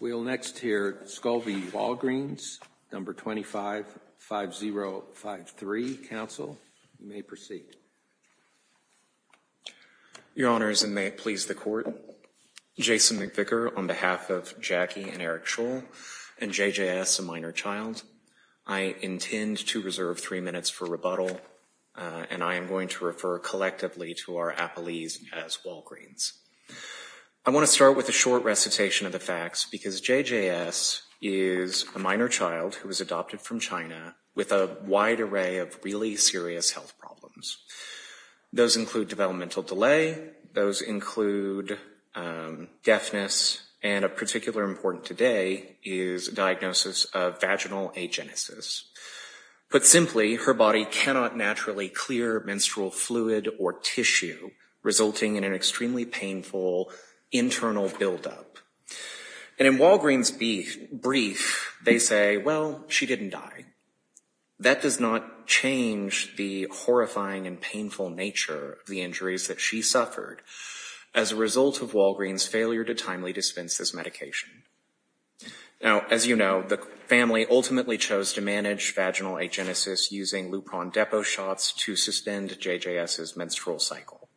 We'll next hear Scholl v. Walgreens, number 25-5053, counsel. You may proceed. Your honors, and may it please the court, Jason McVicker on behalf of Jackie and Eric Scholl and JJS, a minor child. I intend to reserve three minutes for rebuttal and I am going to refer collectively to our appellees as Walgreens. I want to start with a short recitation of the facts because JJS is a minor child who was adopted from China with a wide array of really serious health problems. Those include developmental delay, those include deafness, and a particular important today is a diagnosis of vaginal agenesis. Put simply, her body cannot naturally clear menstrual fluid or tissue, resulting in an extremely painful internal buildup. And in Walgreens' brief, they say, well, she didn't die. That does not change the horrifying and painful nature of the injuries that she suffered as a result of Walgreens' failure to timely dispense this medication. Now, as you know, the family ultimately chose to manage vaginal agenesis using Lupron Depo shots to suspend JJS's menstrual cycle.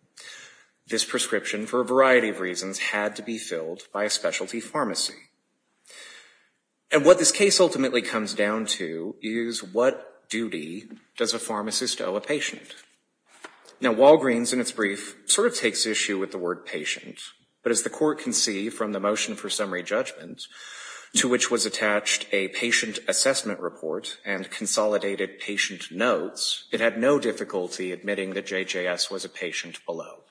This prescription, for a variety of reasons, had to be filled by a specialty pharmacy. And what this case ultimately comes down to is what duty does a pharmacist owe a patient? Now, Walgreens, in its brief, sort of takes issue with the word patient. But as the court can see from the motion for summary judgment, to which was attached a patient assessment report and consolidated patient notes, it had no difficulty admitting that JJS was a patient below.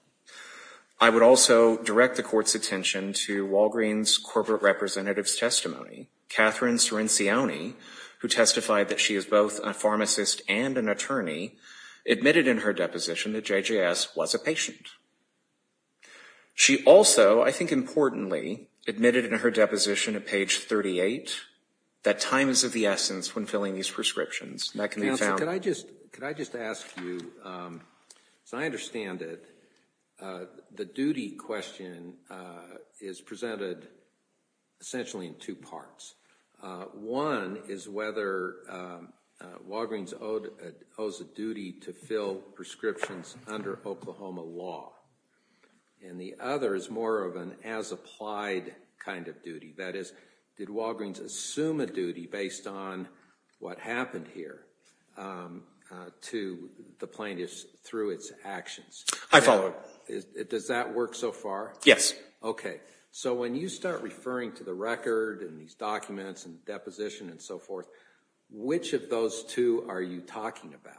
I would also direct the court's attention to Walgreens' corporate representative's testimony. Catherine Cirincione, who testified that she is both a pharmacist and an attorney, admitted in her deposition that JJS was a patient. She also, I think importantly, admitted in her deposition at page 38 that time is of the essence when filling these prescriptions. And that can be found- Counsel, could I just ask you, so I understand that the duty question is presented essentially in two parts. One is whether Walgreens owes a duty to fill prescriptions under Oklahoma law. And the other is more of an as-applied kind of duty. That is, did Walgreens assume a duty based on what happened here to the plaintiffs through its actions? I follow. Does that work so far? Yes. Okay. So when you start referring to the record and these documents and deposition and so forth, which of those two are you talking about?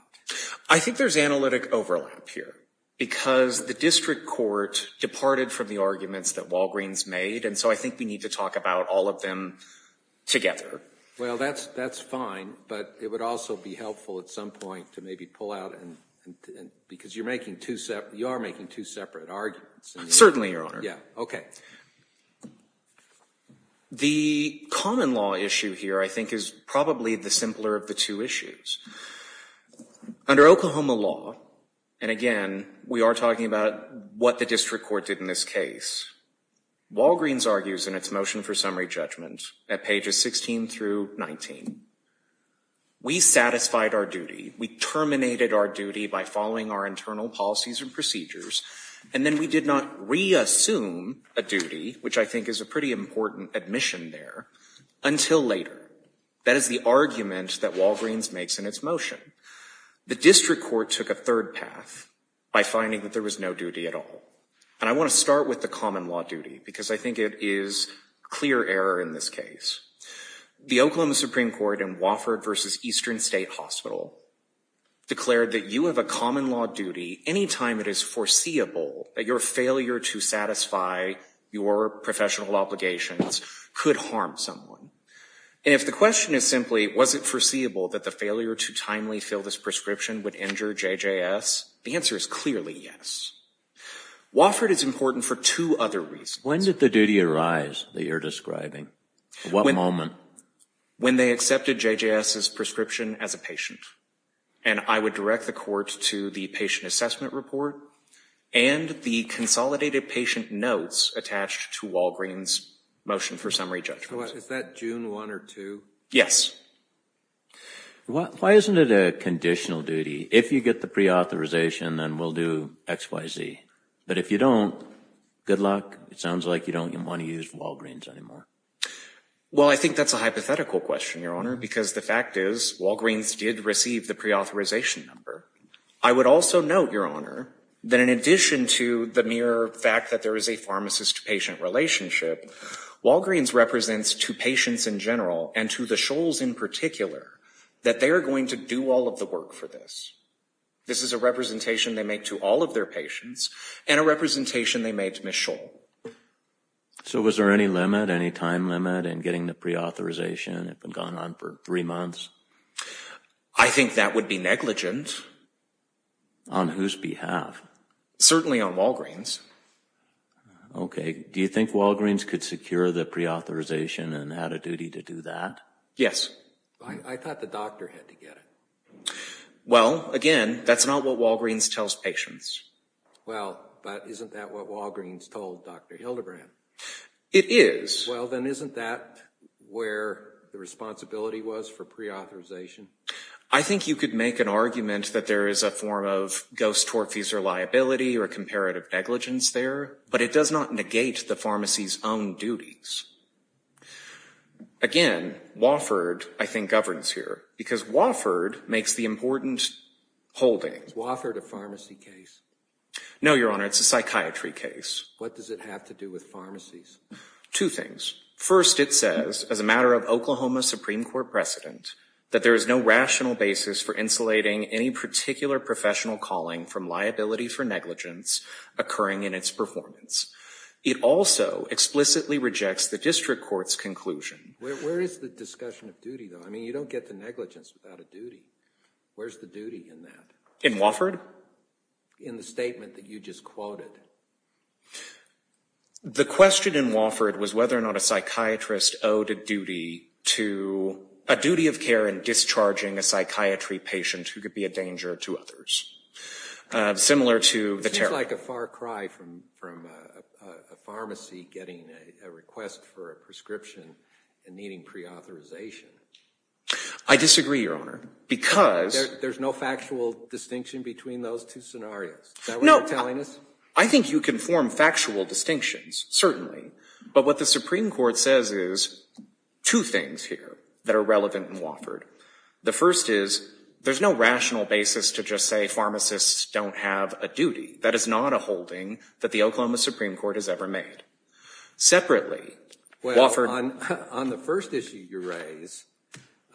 I think there's analytic overlap here because the district court departed from the arguments that Walgreens made. And so I think we need to talk about all of them together. Well, that's fine, but it would also be helpful at some point to maybe pull out and, because you're making two separate, you are making two separate arguments. Certainly, Your Honor. Yeah, okay. The common law issue here, I think, is probably the simpler of the two issues. Under Oklahoma law, and again, we are talking about what the district court did in this case. Walgreens argues in its motion for summary judgment at pages 16 through 19, we satisfied our duty. We terminated our duty by following our internal policies and procedures. And then we did not re-assume a duty, which I think is a pretty important admission there, until later. That is the argument that Walgreens makes in its motion. The district court took a third path by finding that there was no duty at all. And I want to start with the common law duty because I think it is clear error in this case. The Oklahoma Supreme Court in Wofford versus Eastern State Hospital declared that you have a common law duty anytime it is foreseeable that your failure to satisfy your professional obligations could harm someone. And if the question is simply, was it foreseeable that the failure to timely fill this prescription would injure JJS? The answer is clearly yes. Wofford is important for two other reasons. When did the duty arise that you're describing? What moment? When they accepted JJS's prescription as a patient. And I would direct the court to the patient assessment report and the consolidated patient notes attached to Walgreens motion for summary judgment. Is that June one or two? Yes. Why isn't it a conditional duty? If you get the pre-authorization, then we'll do X, Y, Z. But if you don't, good luck. It sounds like you don't even wanna use Walgreens anymore. Well, I think that's a hypothetical question, Your Honor, because the fact is, Walgreens did receive the pre-authorization number. I would also note, Your Honor, that in addition to the mere fact that there is a pharmacist-patient relationship, Walgreens represents to patients in general and to the Scholls in particular that they are going to do all of the work for this. This is a representation they make to all of their patients and a representation they make to Ms. Scholl. So was there any limit, any time limit, in getting the pre-authorization if it had gone on for three months? I think that would be negligent. On whose behalf? Certainly on Walgreens. Okay, do you think Walgreens could secure the pre-authorization and had a duty to do that? Yes. I thought the doctor had to get it. Well, again, that's not what Walgreens tells patients. Well, but isn't that what Walgreens told Dr. Hildebrand? It is. Well, then isn't that where the responsibility was for pre-authorization? I think you could make an argument that there is a form of ghost-torphies or liability or comparative negligence there, but it does not negate the pharmacy's own duties. Again, Wofford, I think, governs here because Wofford makes the important holding. Is Wofford a pharmacy case? No, Your Honor, it's a psychiatry case. What does it have to do with pharmacies? Two things. First, it says, as a matter of Oklahoma Supreme Court precedent, that there is no rational basis for insulating any particular professional calling from liability for negligence occurring in its performance. It also explicitly rejects the district court's conclusion. Where is the discussion of duty, though? I mean, you don't get to negligence without a duty. Where's the duty in that? In Wofford? In the statement that you just quoted. The question in Wofford was whether or not a psychiatrist owed a duty to, a duty of care in discharging a psychiatry patient who could be a danger to others. Similar to the tariff. It seems like a far cry from a pharmacy getting a request for a prescription and needing pre-authorization. I disagree, Your Honor, because. There's no factual distinction between those two scenarios. Is that what you're telling us? I think you can form factual distinctions, certainly. But what the Supreme Court says is, two things here that are relevant in Wofford. The first is, there's no rational basis to just say pharmacists don't have a duty. That is not a holding that the Oklahoma Supreme Court has ever made. Separately, Wofford. On the first issue you raise,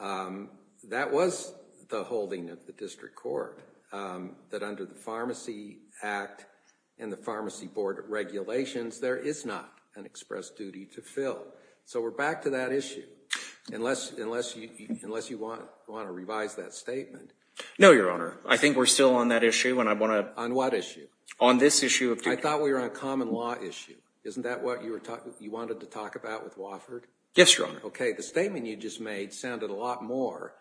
that was the holding of the district court. That under the Pharmacy Act and the Pharmacy Board of Regulations, there is not an express duty to fill. So we're back to that issue. Unless you want to revise that statement. No, Your Honor. I think we're still on that issue and I want to. On what issue? On this issue of duty. I thought we were on a common law issue. Isn't that what you wanted to talk about with Wofford? Yes, Your Honor. Okay, the statement you just made sounded a lot more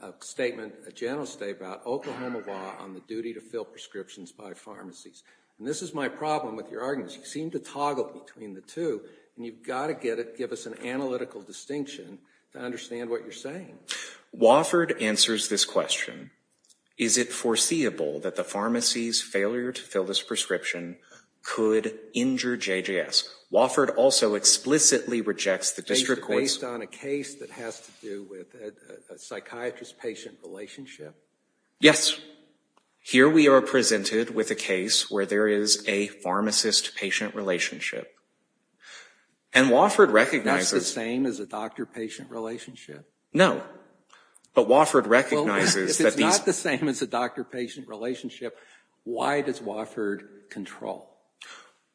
of a statement, a general statement about Oklahoma law on the duty to fill prescriptions by pharmacies. And this is my problem with your arguments. You seem to toggle between the two and you've got to give us an analytical distinction to understand what you're saying. Wofford answers this question. Is it foreseeable that the pharmacy's failure to fill this prescription could injure JJS? Wofford also explicitly rejects the district court's- So you're focused on a case that has to do with a psychiatrist-patient relationship? Yes. Here we are presented with a case where there is a pharmacist-patient relationship. And Wofford recognizes- That's the same as a doctor-patient relationship? No. But Wofford recognizes that these- Well, if it's not the same as a doctor-patient relationship, why does Wofford control?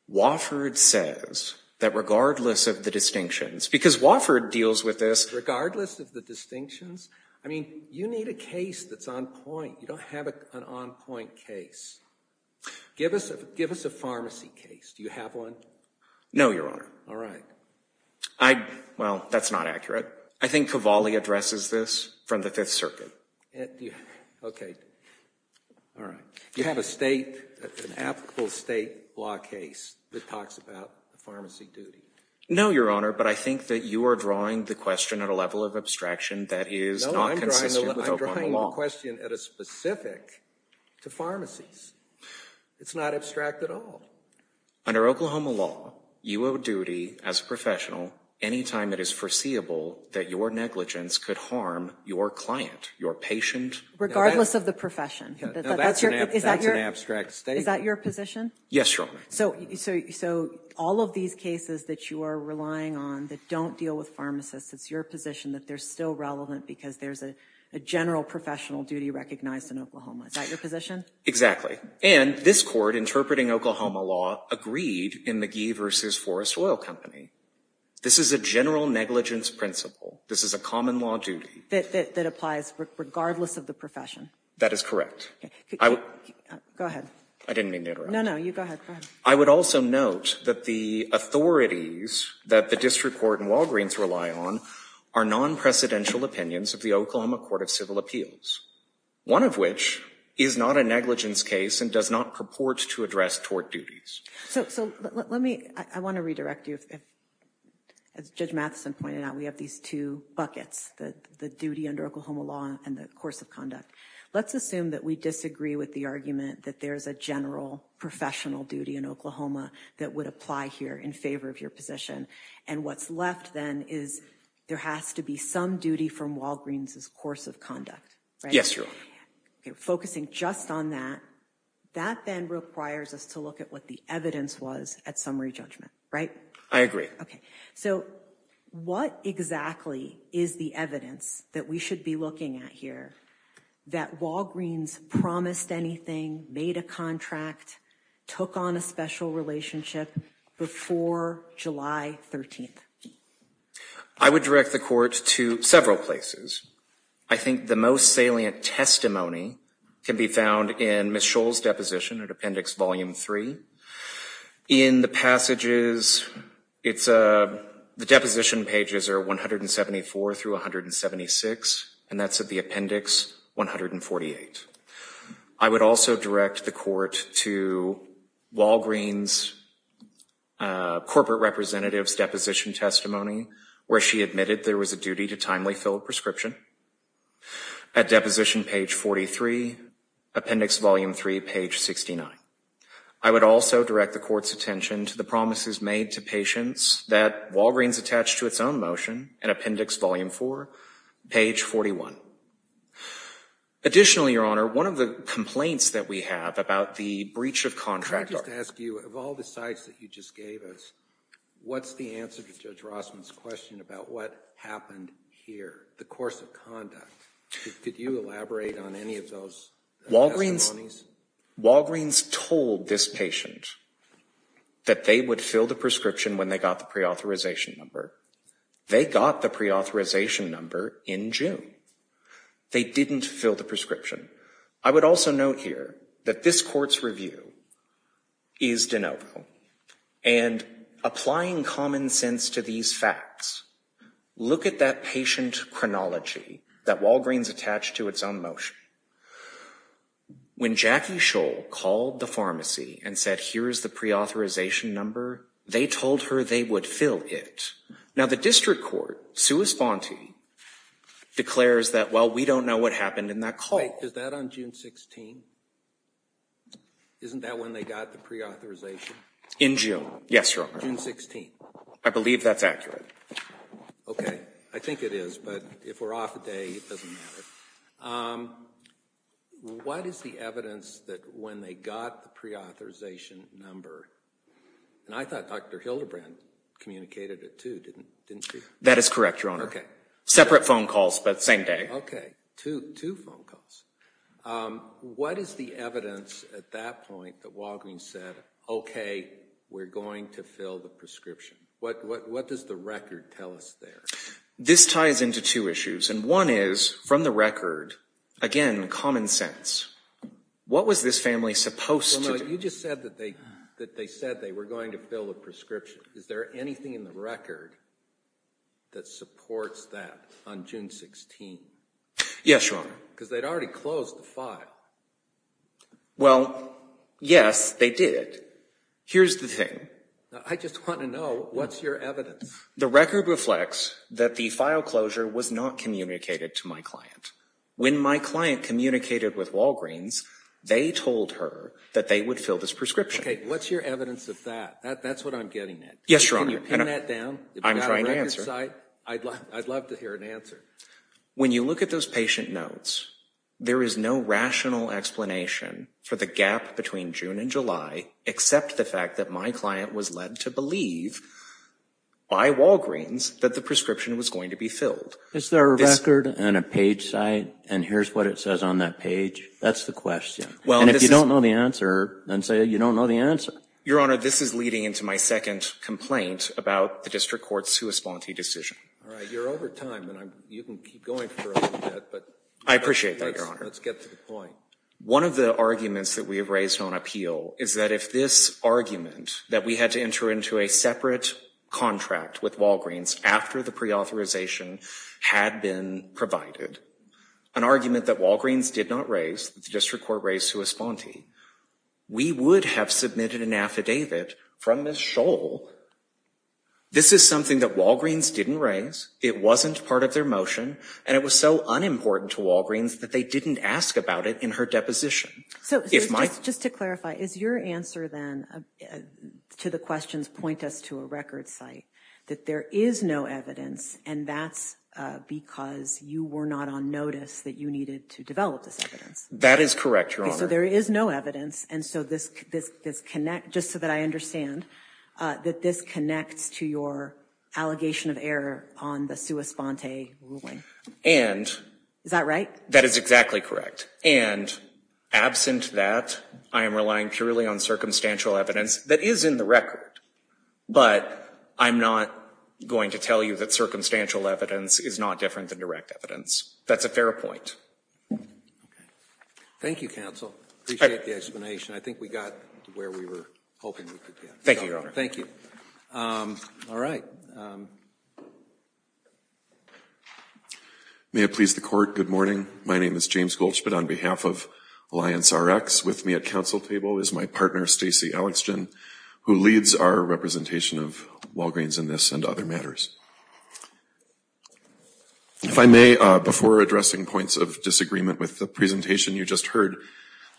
Wofford says that regardless of the distinctions, because Wofford deals with this- Regardless of the distinctions? I mean, you need a case that's on point. You don't have an on-point case. Give us a pharmacy case. Do you have one? No, Your Honor. All right. Well, that's not accurate. I think Cavalli addresses this from the Fifth Circuit. Okay. All right. Do you have an applicable state law case that talks about the pharmacy duty? No, Your Honor, but I think that you are drawing the question at a level of abstraction that is not consistent with Oklahoma law. I'm drawing the question at a specific to pharmacies. It's not abstract at all. Under Oklahoma law, you owe duty as a professional anytime it is foreseeable that your negligence could harm your client, your patient- Regardless of the profession. That's an abstract statement. Is that your position? Yes, Your Honor. So all of these cases that you are relying on that don't deal with pharmacists, it's your position that they're still relevant because there's a general professional duty recognized in Oklahoma. Is that your position? Exactly. And this Court, interpreting Oklahoma law, agreed in McGee v. Forrest Oil Company. This is a general negligence principle. This is a common law duty. That applies regardless of the profession. That is correct. Go ahead. I didn't mean to interrupt. No, no, you go ahead. I would also note that the authorities that the District Court and Walgreens rely on are non-precedential opinions of the Oklahoma Court of Civil Appeals. One of which is not a negligence case and does not purport to address tort duties. So let me, I want to redirect you. As Judge Matheson pointed out, we have these two buckets, the duty under Oklahoma law and the course of conduct. Let's assume that we disagree with the argument that there's a general professional duty in Oklahoma that would apply here in favor of your position. And what's left then is there has to be some duty from Walgreens' course of conduct. Yes, Your Honor. Focusing just on that, that then requires us to look at what the evidence was at summary judgment, right? I agree. So what exactly is the evidence that we should be looking at here that Walgreens promised anything, made a contract, took on a special relationship before July 13th? I would direct the court to several places. I think the most salient testimony can be found in Ms. Scholl's deposition at appendix volume three. In the passages, the deposition pages are 174 through 176. And that's at the appendix 148. I would also direct the court to Walgreens' corporate representative's deposition testimony where she admitted there was a duty to timely fill a prescription at deposition page 43, appendix volume three, page 69. I would also direct the court's attention to the promises made to patients that Walgreens attached to its own motion at appendix volume four, page 41. Additionally, Your Honor, one of the complaints that we have about the breach of contract. Can I just ask you, of all the sites that you just gave us, what's the answer to Judge Rossman's question about what happened here, the course of conduct? Could you elaborate on any of those testimonies? Walgreens told this patient that they would fill the prescription when they got the preauthorization number. They got the preauthorization number in June. They didn't fill the prescription. I would also note here that this court's review is de novo. And applying common sense to these facts, look at that patient chronology that Walgreens attached to its own motion. When Jackie Scholl called the pharmacy and said, here's the preauthorization number, they told her they would fill it. Now the district court, suis fonti, declares that, well, we don't know what happened in that call. Is that on June 16? Isn't that when they got the preauthorization? In June, yes, Your Honor. June 16. I believe that's accurate. Okay, I think it is, but if we're off a day, it doesn't matter. What is the evidence that when they got the preauthorization number, and I thought Dr. Hildebrand communicated it too, didn't she? That is correct, Your Honor. Separate phone calls, but same day. Okay, two phone calls. What is the evidence at that point that Walgreens said, okay, we're going to fill the prescription? What does the record tell us there? This ties into two issues. And one is, from the record, again, common sense. What was this family supposed to do? Your Honor, you just said that they said they were going to fill the prescription. Is there anything in the record that supports that on June 16? Yes, Your Honor. Because they'd already closed the file. Well, yes, they did. Here's the thing. I just want to know, what's your evidence? The record reflects that the file closure was not communicated to my client. When my client communicated with Walgreens, they told her that they would fill this prescription. Okay, what's your evidence of that? That's what I'm getting at. Yes, Your Honor. Can you pin that down? I'm trying to answer. I'd love to hear an answer. When you look at those patient notes, there is no rational explanation for the gap between June and July, except the fact that my client was led to believe by Walgreens that the prescription was going to be filled. Is there a record and a page site, and here's what it says on that page? That's the question. And if you don't know the answer, then say you don't know the answer. Your Honor, this is leading into my second complaint about the district court's sui sponte decision. All right, you're over time, and you can keep going for a little bit, but. I appreciate that, Your Honor. Let's get to the point. One of the arguments that we have raised on appeal is that if this argument, that we had to enter into a separate contract with Walgreens after the pre-authorization had been provided, an argument that Walgreens did not raise, that the district court raised sui sponte, we would have submitted an affidavit from Ms. Scholl. This is something that Walgreens didn't raise, it wasn't part of their motion, and it was so unimportant to Walgreens that they didn't ask about it in her deposition. So, just to clarify, is your answer then to the questions point us to a record site, that there is no evidence, and that's because you were not on notice that you needed to develop this evidence? That is correct, Your Honor. Okay, so there is no evidence, and so this connect, just so that I understand, that this connects to your allegation of error on the sui sponte ruling. And. Is that right? That is exactly correct. And, absent that, I am relying purely on circumstantial evidence that is in the record, but I'm not going to tell you that circumstantial evidence is not different than direct evidence. That's a fair point. Thank you, counsel. I appreciate the explanation. I think we got to where we were hoping we could get. Thank you, Your Honor. Thank you. All right. May it please the court, good morning. My name is James Goldschmidt on behalf of Alliance RX. With me at council table is my partner, Stacy Alexgen, who leads our representation of Walgreens in this and other matters. If I may, before addressing points of disagreement with the presentation you just heard,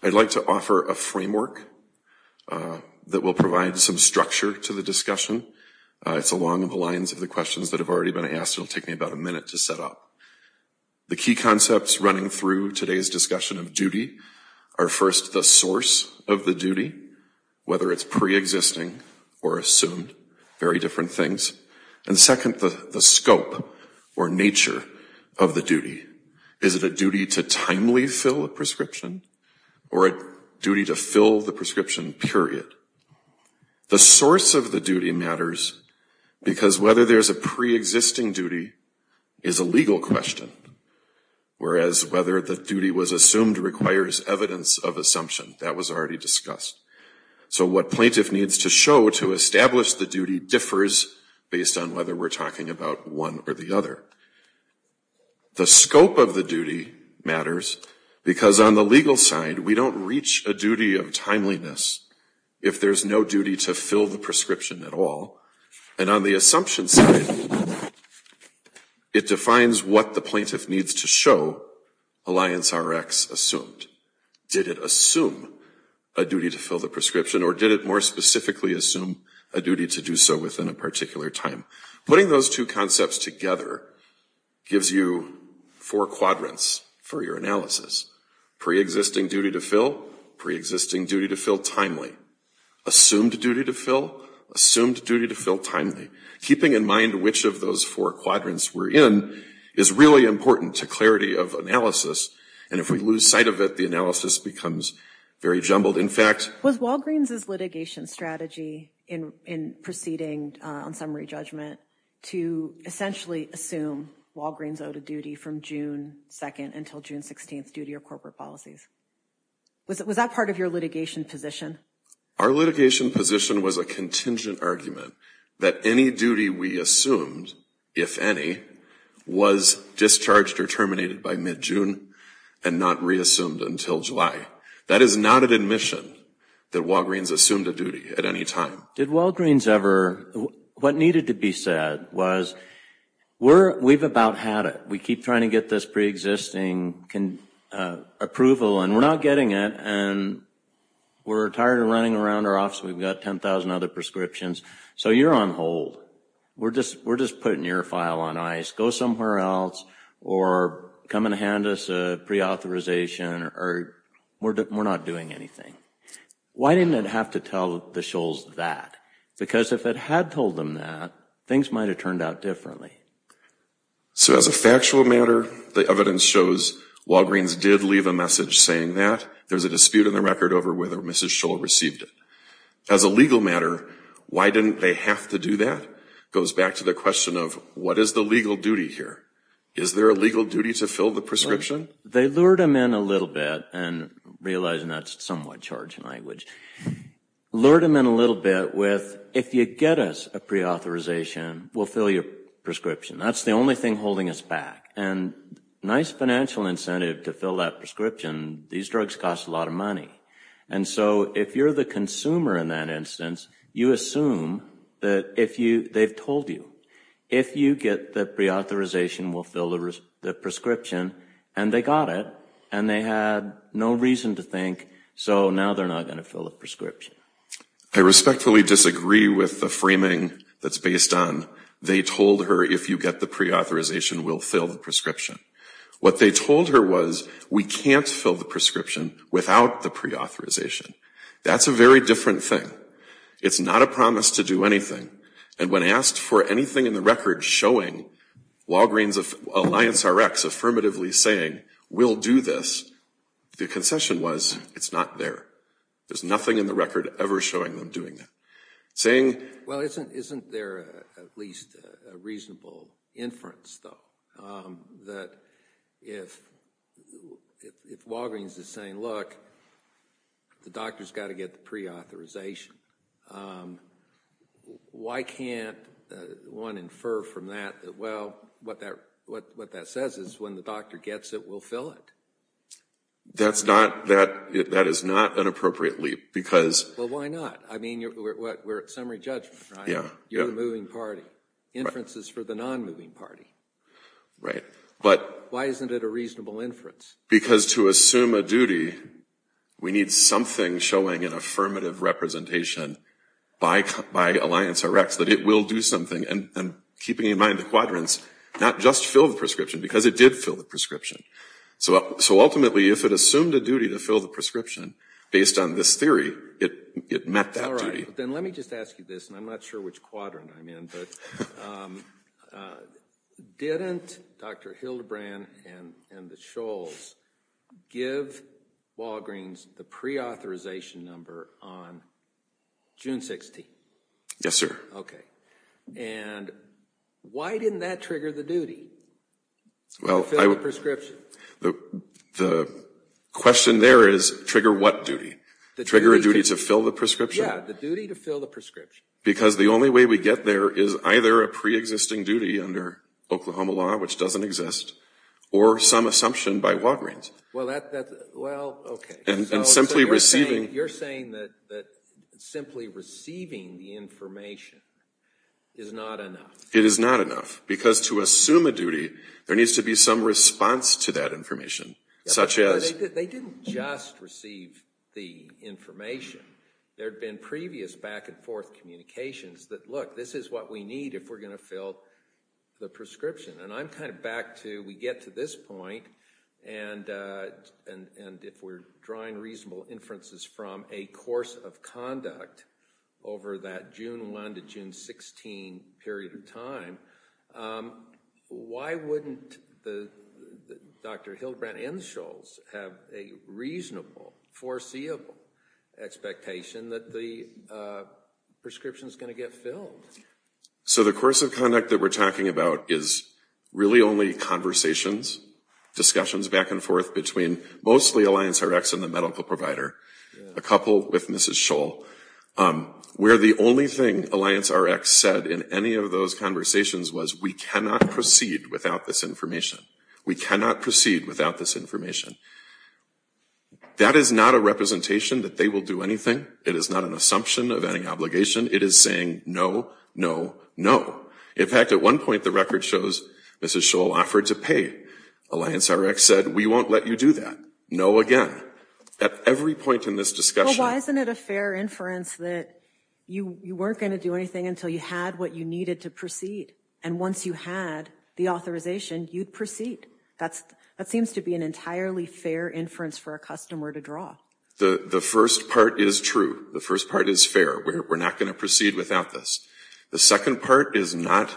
I'd like to offer a framework that will provide some structure to the discussion. It's along the lines of the questions that have already been asked. It'll take me about a minute to set up. The key concepts running through today's discussion of duty are first, the source of the duty, whether it's preexisting or assumed, very different things. And second, the scope or nature of the duty. Is it a duty to timely fill a prescription or a duty to fill the prescription, period? The source of the duty matters because whether there's a preexisting duty is a legal question, whereas whether the duty was assumed requires evidence of assumption. That was already discussed. So what plaintiff needs to show to establish the duty differs based on whether we're talking about one or the other. The scope of the duty matters because on the legal side, we don't reach a duty of timeliness if there's no duty to fill the prescription at all. And on the assumption side, it defines what the plaintiff needs to show Alliance Rx assumed. Did it assume a duty to fill the prescription or did it more specifically assume a duty to do so within a particular time? Putting those two concepts together gives you four quadrants for your analysis. Preexisting duty to fill, preexisting duty to fill timely. Assumed duty to fill, assumed duty to fill timely. Keeping in mind which of those four quadrants we're in is really important to clarity of analysis. And if we lose sight of it, the analysis becomes very jumbled. In fact- Was Walgreens' litigation strategy in proceeding on summary judgment to essentially assume Walgreens owed a duty from June 2nd until June 16th duty of corporate policies. Was that part of your litigation position? Our litigation position was a contingent argument that any duty we assumed, if any, was discharged or terminated by mid-June and not reassumed until July. That is not an admission that Walgreens assumed a duty at any time. Did Walgreens ever, what needed to be said was we've about had it. We keep trying to get this preexisting approval and we're not getting it and we're tired of running around our office. We've got 10,000 other prescriptions. So you're on hold. We're just putting your file on ice. Go somewhere else or come and hand us a preauthorization or we're not doing anything. Why didn't it have to tell the Shoals that? Because if it had told them that, things might have turned out differently. So as a factual matter, the evidence shows Walgreens did leave a message saying that there's a dispute in the record over whether Mrs. Shoal received it. As a legal matter, why didn't they have to do that? Goes back to the question of what is the legal duty here? Is there a legal duty to fill the prescription? They lured them in a little bit and realizing that's somewhat charged language, lured them in a little bit with, if you get us a preauthorization, we'll fill your prescription. That's the only thing holding us back. And nice financial incentive to fill that prescription. These drugs cost a lot of money. And so if you're the consumer in that instance, you assume that if you, they've told you, if you get the preauthorization, we'll fill the prescription and they got it and they had no reason to think, so now they're not gonna fill the prescription. I respectfully disagree with the framing that's based on they told her, if you get the preauthorization, we'll fill the prescription. What they told her was, we can't fill the prescription without the preauthorization. That's a very different thing. It's not a promise to do anything. And when asked for anything in the record showing Walgreens Alliance RX affirmatively saying, we'll do this. The concession was, it's not there. There's nothing in the record ever showing them doing that. Saying. Well, isn't there at least a reasonable inference though, that if Walgreens is saying, look, the doctor's gotta get the preauthorization. Why can't one infer from that, well, what that says is when the doctor gets it, we'll fill it. That's not, that is not an appropriate leap because. Well, why not? I mean, we're at summary judgment, right? You're the moving party. Inference is for the non-moving party. Right, but. Why isn't it a reasonable inference? Because to assume a duty, we need something showing an affirmative representation by Alliance RX that it will do something. And keeping in mind the quadrants, not just fill the prescription because it did fill the prescription. So ultimately, if it assumed a duty to fill the prescription based on this theory, it met that duty. All right, then let me just ask you this, and I'm not sure which quadrant I'm in, but didn't Dr. Hildebrand and the Scholes give Walgreens the preauthorization number on June 16th? Yes, sir. Okay, and why didn't that trigger the duty? Well, I would. The question there is, trigger what duty? Trigger a duty to fill the prescription? Yeah, the duty to fill the prescription. Because the only way we get there is either a preexisting duty under Oklahoma law, which doesn't exist, or some assumption by Walgreens. Well, that, well, okay. And simply receiving. You're saying that simply receiving the information is not enough. It is not enough, because to assume a duty, there needs to be some response to that information, such as. They didn't just receive the information. There'd been previous back and forth communications that, look, this is what we need if we're gonna fill the prescription. And I'm kind of back to, we get to this point, and if we're drawing reasonable inferences from a course of conduct over that June 1 to June 16 period of time, why wouldn't Dr. Hildebrand and the Shoals have a reasonable, foreseeable expectation that the prescription's gonna get filled? So the course of conduct that we're talking about is really only conversations, discussions back and forth between mostly AllianceRX and the medical provider, a couple with Mrs. Shoal, where the only thing AllianceRX said in any of those conversations was we cannot proceed without this information. We cannot proceed without this information. That is not a representation that they will do anything. It is not an assumption of any obligation. It is saying no, no, no. In fact, at one point, the record shows Mrs. Shoal offered to pay. AllianceRX said, we won't let you do that. No again. At every point in this discussion. Well, why isn't it a fair inference that you weren't gonna do anything until you had what you needed to proceed, and once you had the authorization, you'd proceed? That seems to be an entirely fair inference for a customer to draw. The first part is true. The first part is fair. We're not gonna proceed without this. The second part is not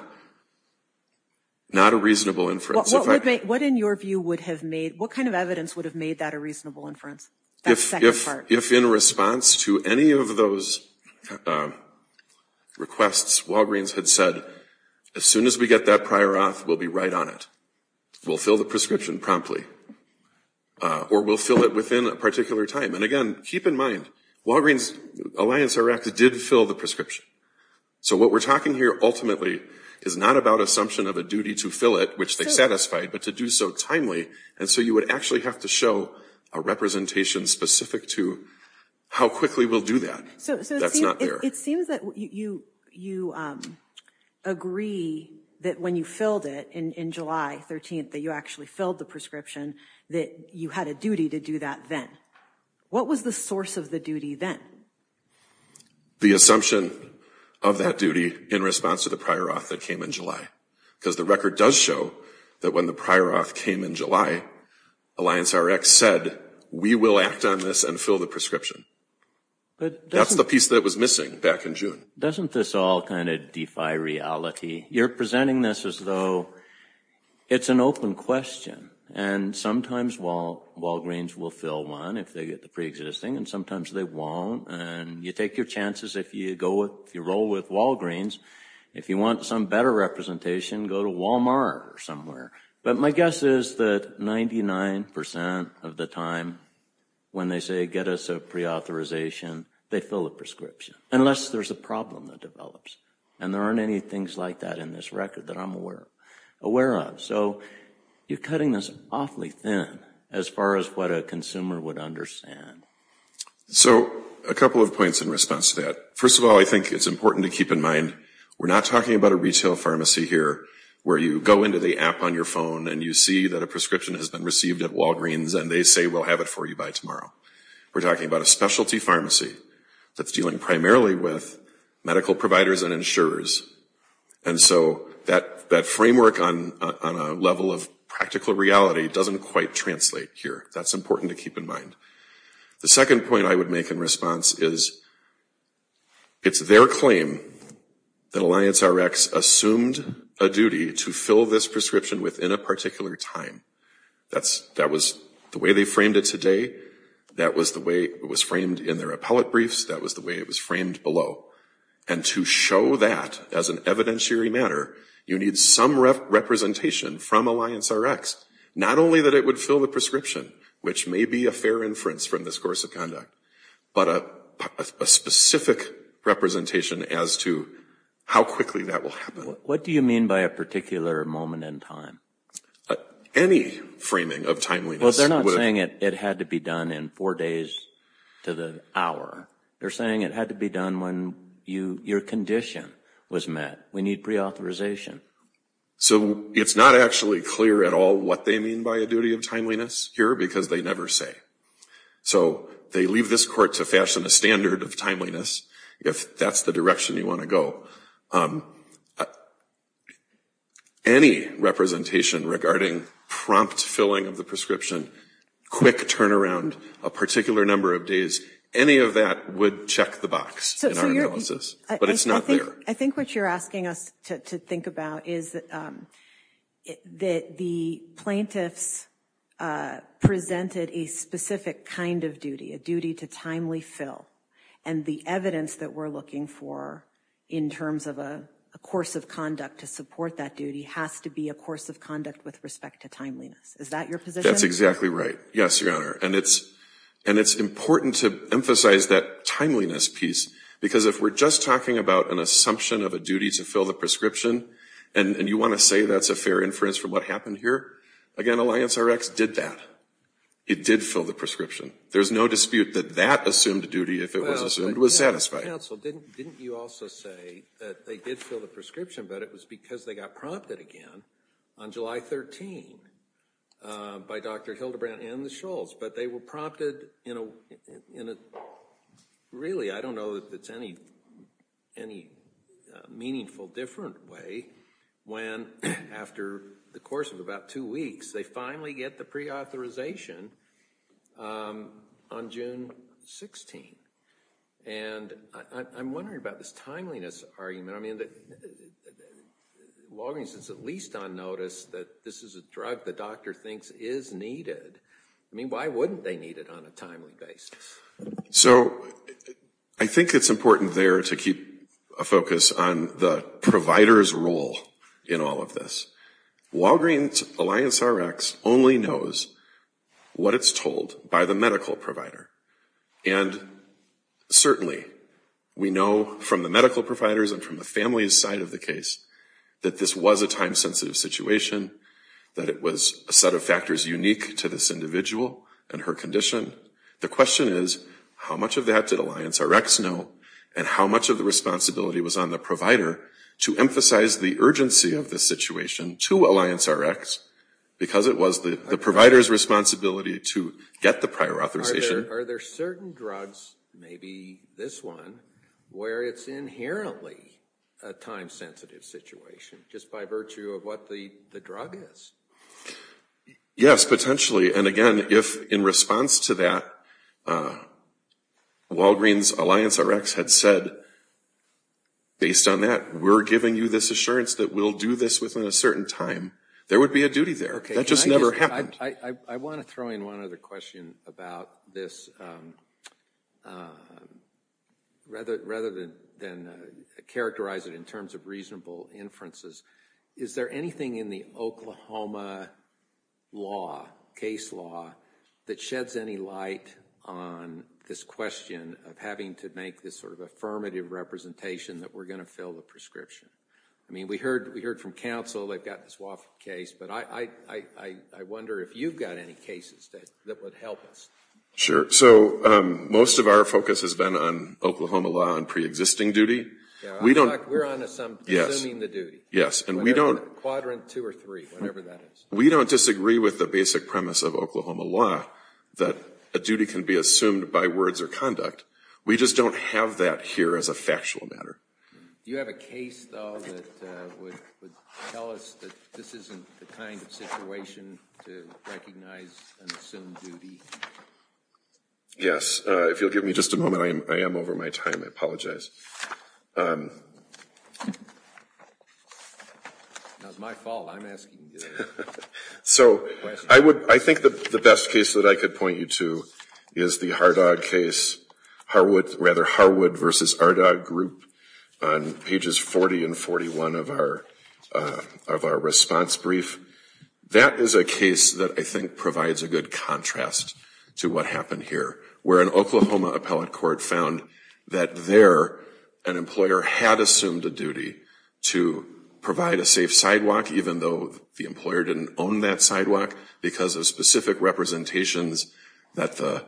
a reasonable inference. What in your view would have made, what kind of evidence would have made that a reasonable inference? That second part. If in response to any of those requests, Walgreens had said, as soon as we get that prior auth, we'll be right on it. We'll fill the prescription promptly. Or we'll fill it within a particular time. And again, keep in mind, Walgreens, Alliance Iraq did fill the prescription. So what we're talking here ultimately is not about assumption of a duty to fill it, which they satisfied, but to do so timely. And so you would actually have to show a representation specific to how quickly we'll do that. That's not fair. It seems that you agree that when you filled it in July 13th, that you actually filled the prescription, that you had a duty to do that then. What was the source of the duty then? The assumption of that duty in response to the prior auth that came in July. Because the record does show that when the prior auth came in July, Alliance Iraq said, we will act on this and fill the prescription. That's the piece that was missing back in June. Doesn't this all kind of defy reality? You're presenting this as though it's an open question. And sometimes Walgreens will fill one if they get the pre-existing, and sometimes they won't. And you take your chances if you roll with Walgreens. If you want some better representation, go to Walmart or somewhere. But my guess is that 99% of the time when they say get us a pre-authorization, they fill the prescription, unless there's a problem that develops. And there aren't any things like that in this record that I'm aware of. So you're cutting this awfully thin as far as what a consumer would understand. So a couple of points in response to that. First of all, I think it's important to keep in mind we're not talking about a retail pharmacy here where you go into the app on your phone and you see that a prescription has been received at Walgreens and they say we'll have it for you by tomorrow. We're talking about a specialty pharmacy that's dealing primarily with medical providers and insurers. And so that framework on a level of practical reality doesn't quite translate here. That's important to keep in mind. The second point I would make in response is it's their claim that Alliance Rx assumed a duty to fill this prescription within a particular time. That was the way they framed it today. That was the way it was framed in their appellate briefs. That was the way it was framed below. And to show that as an evidentiary matter, you need some representation from Alliance Rx. Not only that it would fill the prescription, which may be a fair inference from this course of conduct, but a specific representation as to how quickly that will happen. What do you mean by a particular moment in time? Any framing of timeliness. Well, they're not saying it had to be done in four days to the hour. They're saying it had to be done when your condition was met. We need pre-authorization. So it's not actually clear at all what they mean by a duty of timeliness here because they never say. So they leave this court to fashion a standard of timeliness if that's the direction you want to go. Any representation regarding prompt filling of the prescription, quick turnaround, a particular number of days, any of that would check the box in our analysis. But it's not there. I think what you're asking us to think about is that the plaintiffs presented a specific kind of duty, a duty to timely fill. And the evidence that we're looking for in terms of a course of conduct to support that duty has to be a course of conduct with respect to timeliness. Is that your position? That's exactly right. Yes, Your Honor. And it's important to emphasize that timeliness piece because if we're just talking about an assumption of a duty to fill the prescription and you want to say that's a fair inference from what happened here, again, Alliance Rx did that. It did fill the prescription. There's no dispute that that assumed duty, if it was assumed, was satisfied. Counsel, didn't you also say that they did fill the prescription but it was because they got prompted again on July 13 by Dr. Hildebrandt and the Schultz. But they were prompted in a, really, I don't know if it's any meaningful different way when after the course of about two weeks, they finally get the pre-authorization on June 16. And I'm wondering about this timeliness argument. I mean, Longinus is at least on notice that this is a drug the doctor thinks is needed. I mean, why wouldn't they need it on a timely basis? So I think it's important there to keep a focus on the provider's role in all of this. Walgreens Alliance Rx only knows what it's told by the medical provider. And certainly, we know from the medical providers and from the family's side of the case that this was a time-sensitive situation, that it was a set of factors unique to this individual and her condition. The question is, how much of that did Alliance Rx know and how much of the responsibility was on the provider to emphasize the urgency of the situation to Alliance Rx because it was the provider's responsibility to get the prior authorization? Are there certain drugs, maybe this one, where it's inherently a time-sensitive situation just by virtue of what the drug is? Yes, potentially. And again, if in response to that, Walgreens Alliance Rx had said, based on that, we're giving you this assurance that we'll do this within a certain time, there would be a duty there. That just never happened. I want to throw in one other question about this rather than characterize it in terms of reasonable inferences. Is there anything in the Oklahoma law, case law, that sheds any light on this question of having to make this sort of affirmative representation that we're gonna fill the prescription? I mean, we heard from counsel, they've got this Wofford case, but I wonder if you've got any cases that would help us. Sure, so most of our focus has been on Oklahoma law and pre-existing duty. Yeah, we're assuming the duty. Yes, and we don't- Quadrant two or three, whatever that is. We don't disagree with the basic premise of Oklahoma law that a duty can be assumed by words or conduct. We just don't have that here as a factual matter. Do you have a case, though, that would tell us that this isn't the kind of situation to recognize and assume duty? Yes, if you'll give me just a moment, I am over my time, I apologize. Now, it's my fault, I'm asking you this question. So I think the best case that I could point you to is the Harwood versus Ardog group on pages 40 and 41 of our response brief. That is a case that I think provides a good contrast to what happened here, where an Oklahoma appellate court found that there, an employer had assumed a duty to provide a safe sidewalk, even though the employer didn't own that sidewalk because of specific representations that the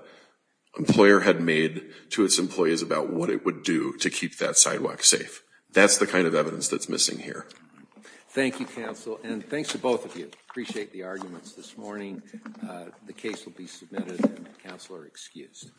employer had made to its employees about what it would do to keep that sidewalk safe. That's the kind of evidence that's missing here. Thank you, counsel, and thanks to both of you. Appreciate the arguments this morning. The case will be submitted, and counsel are excused.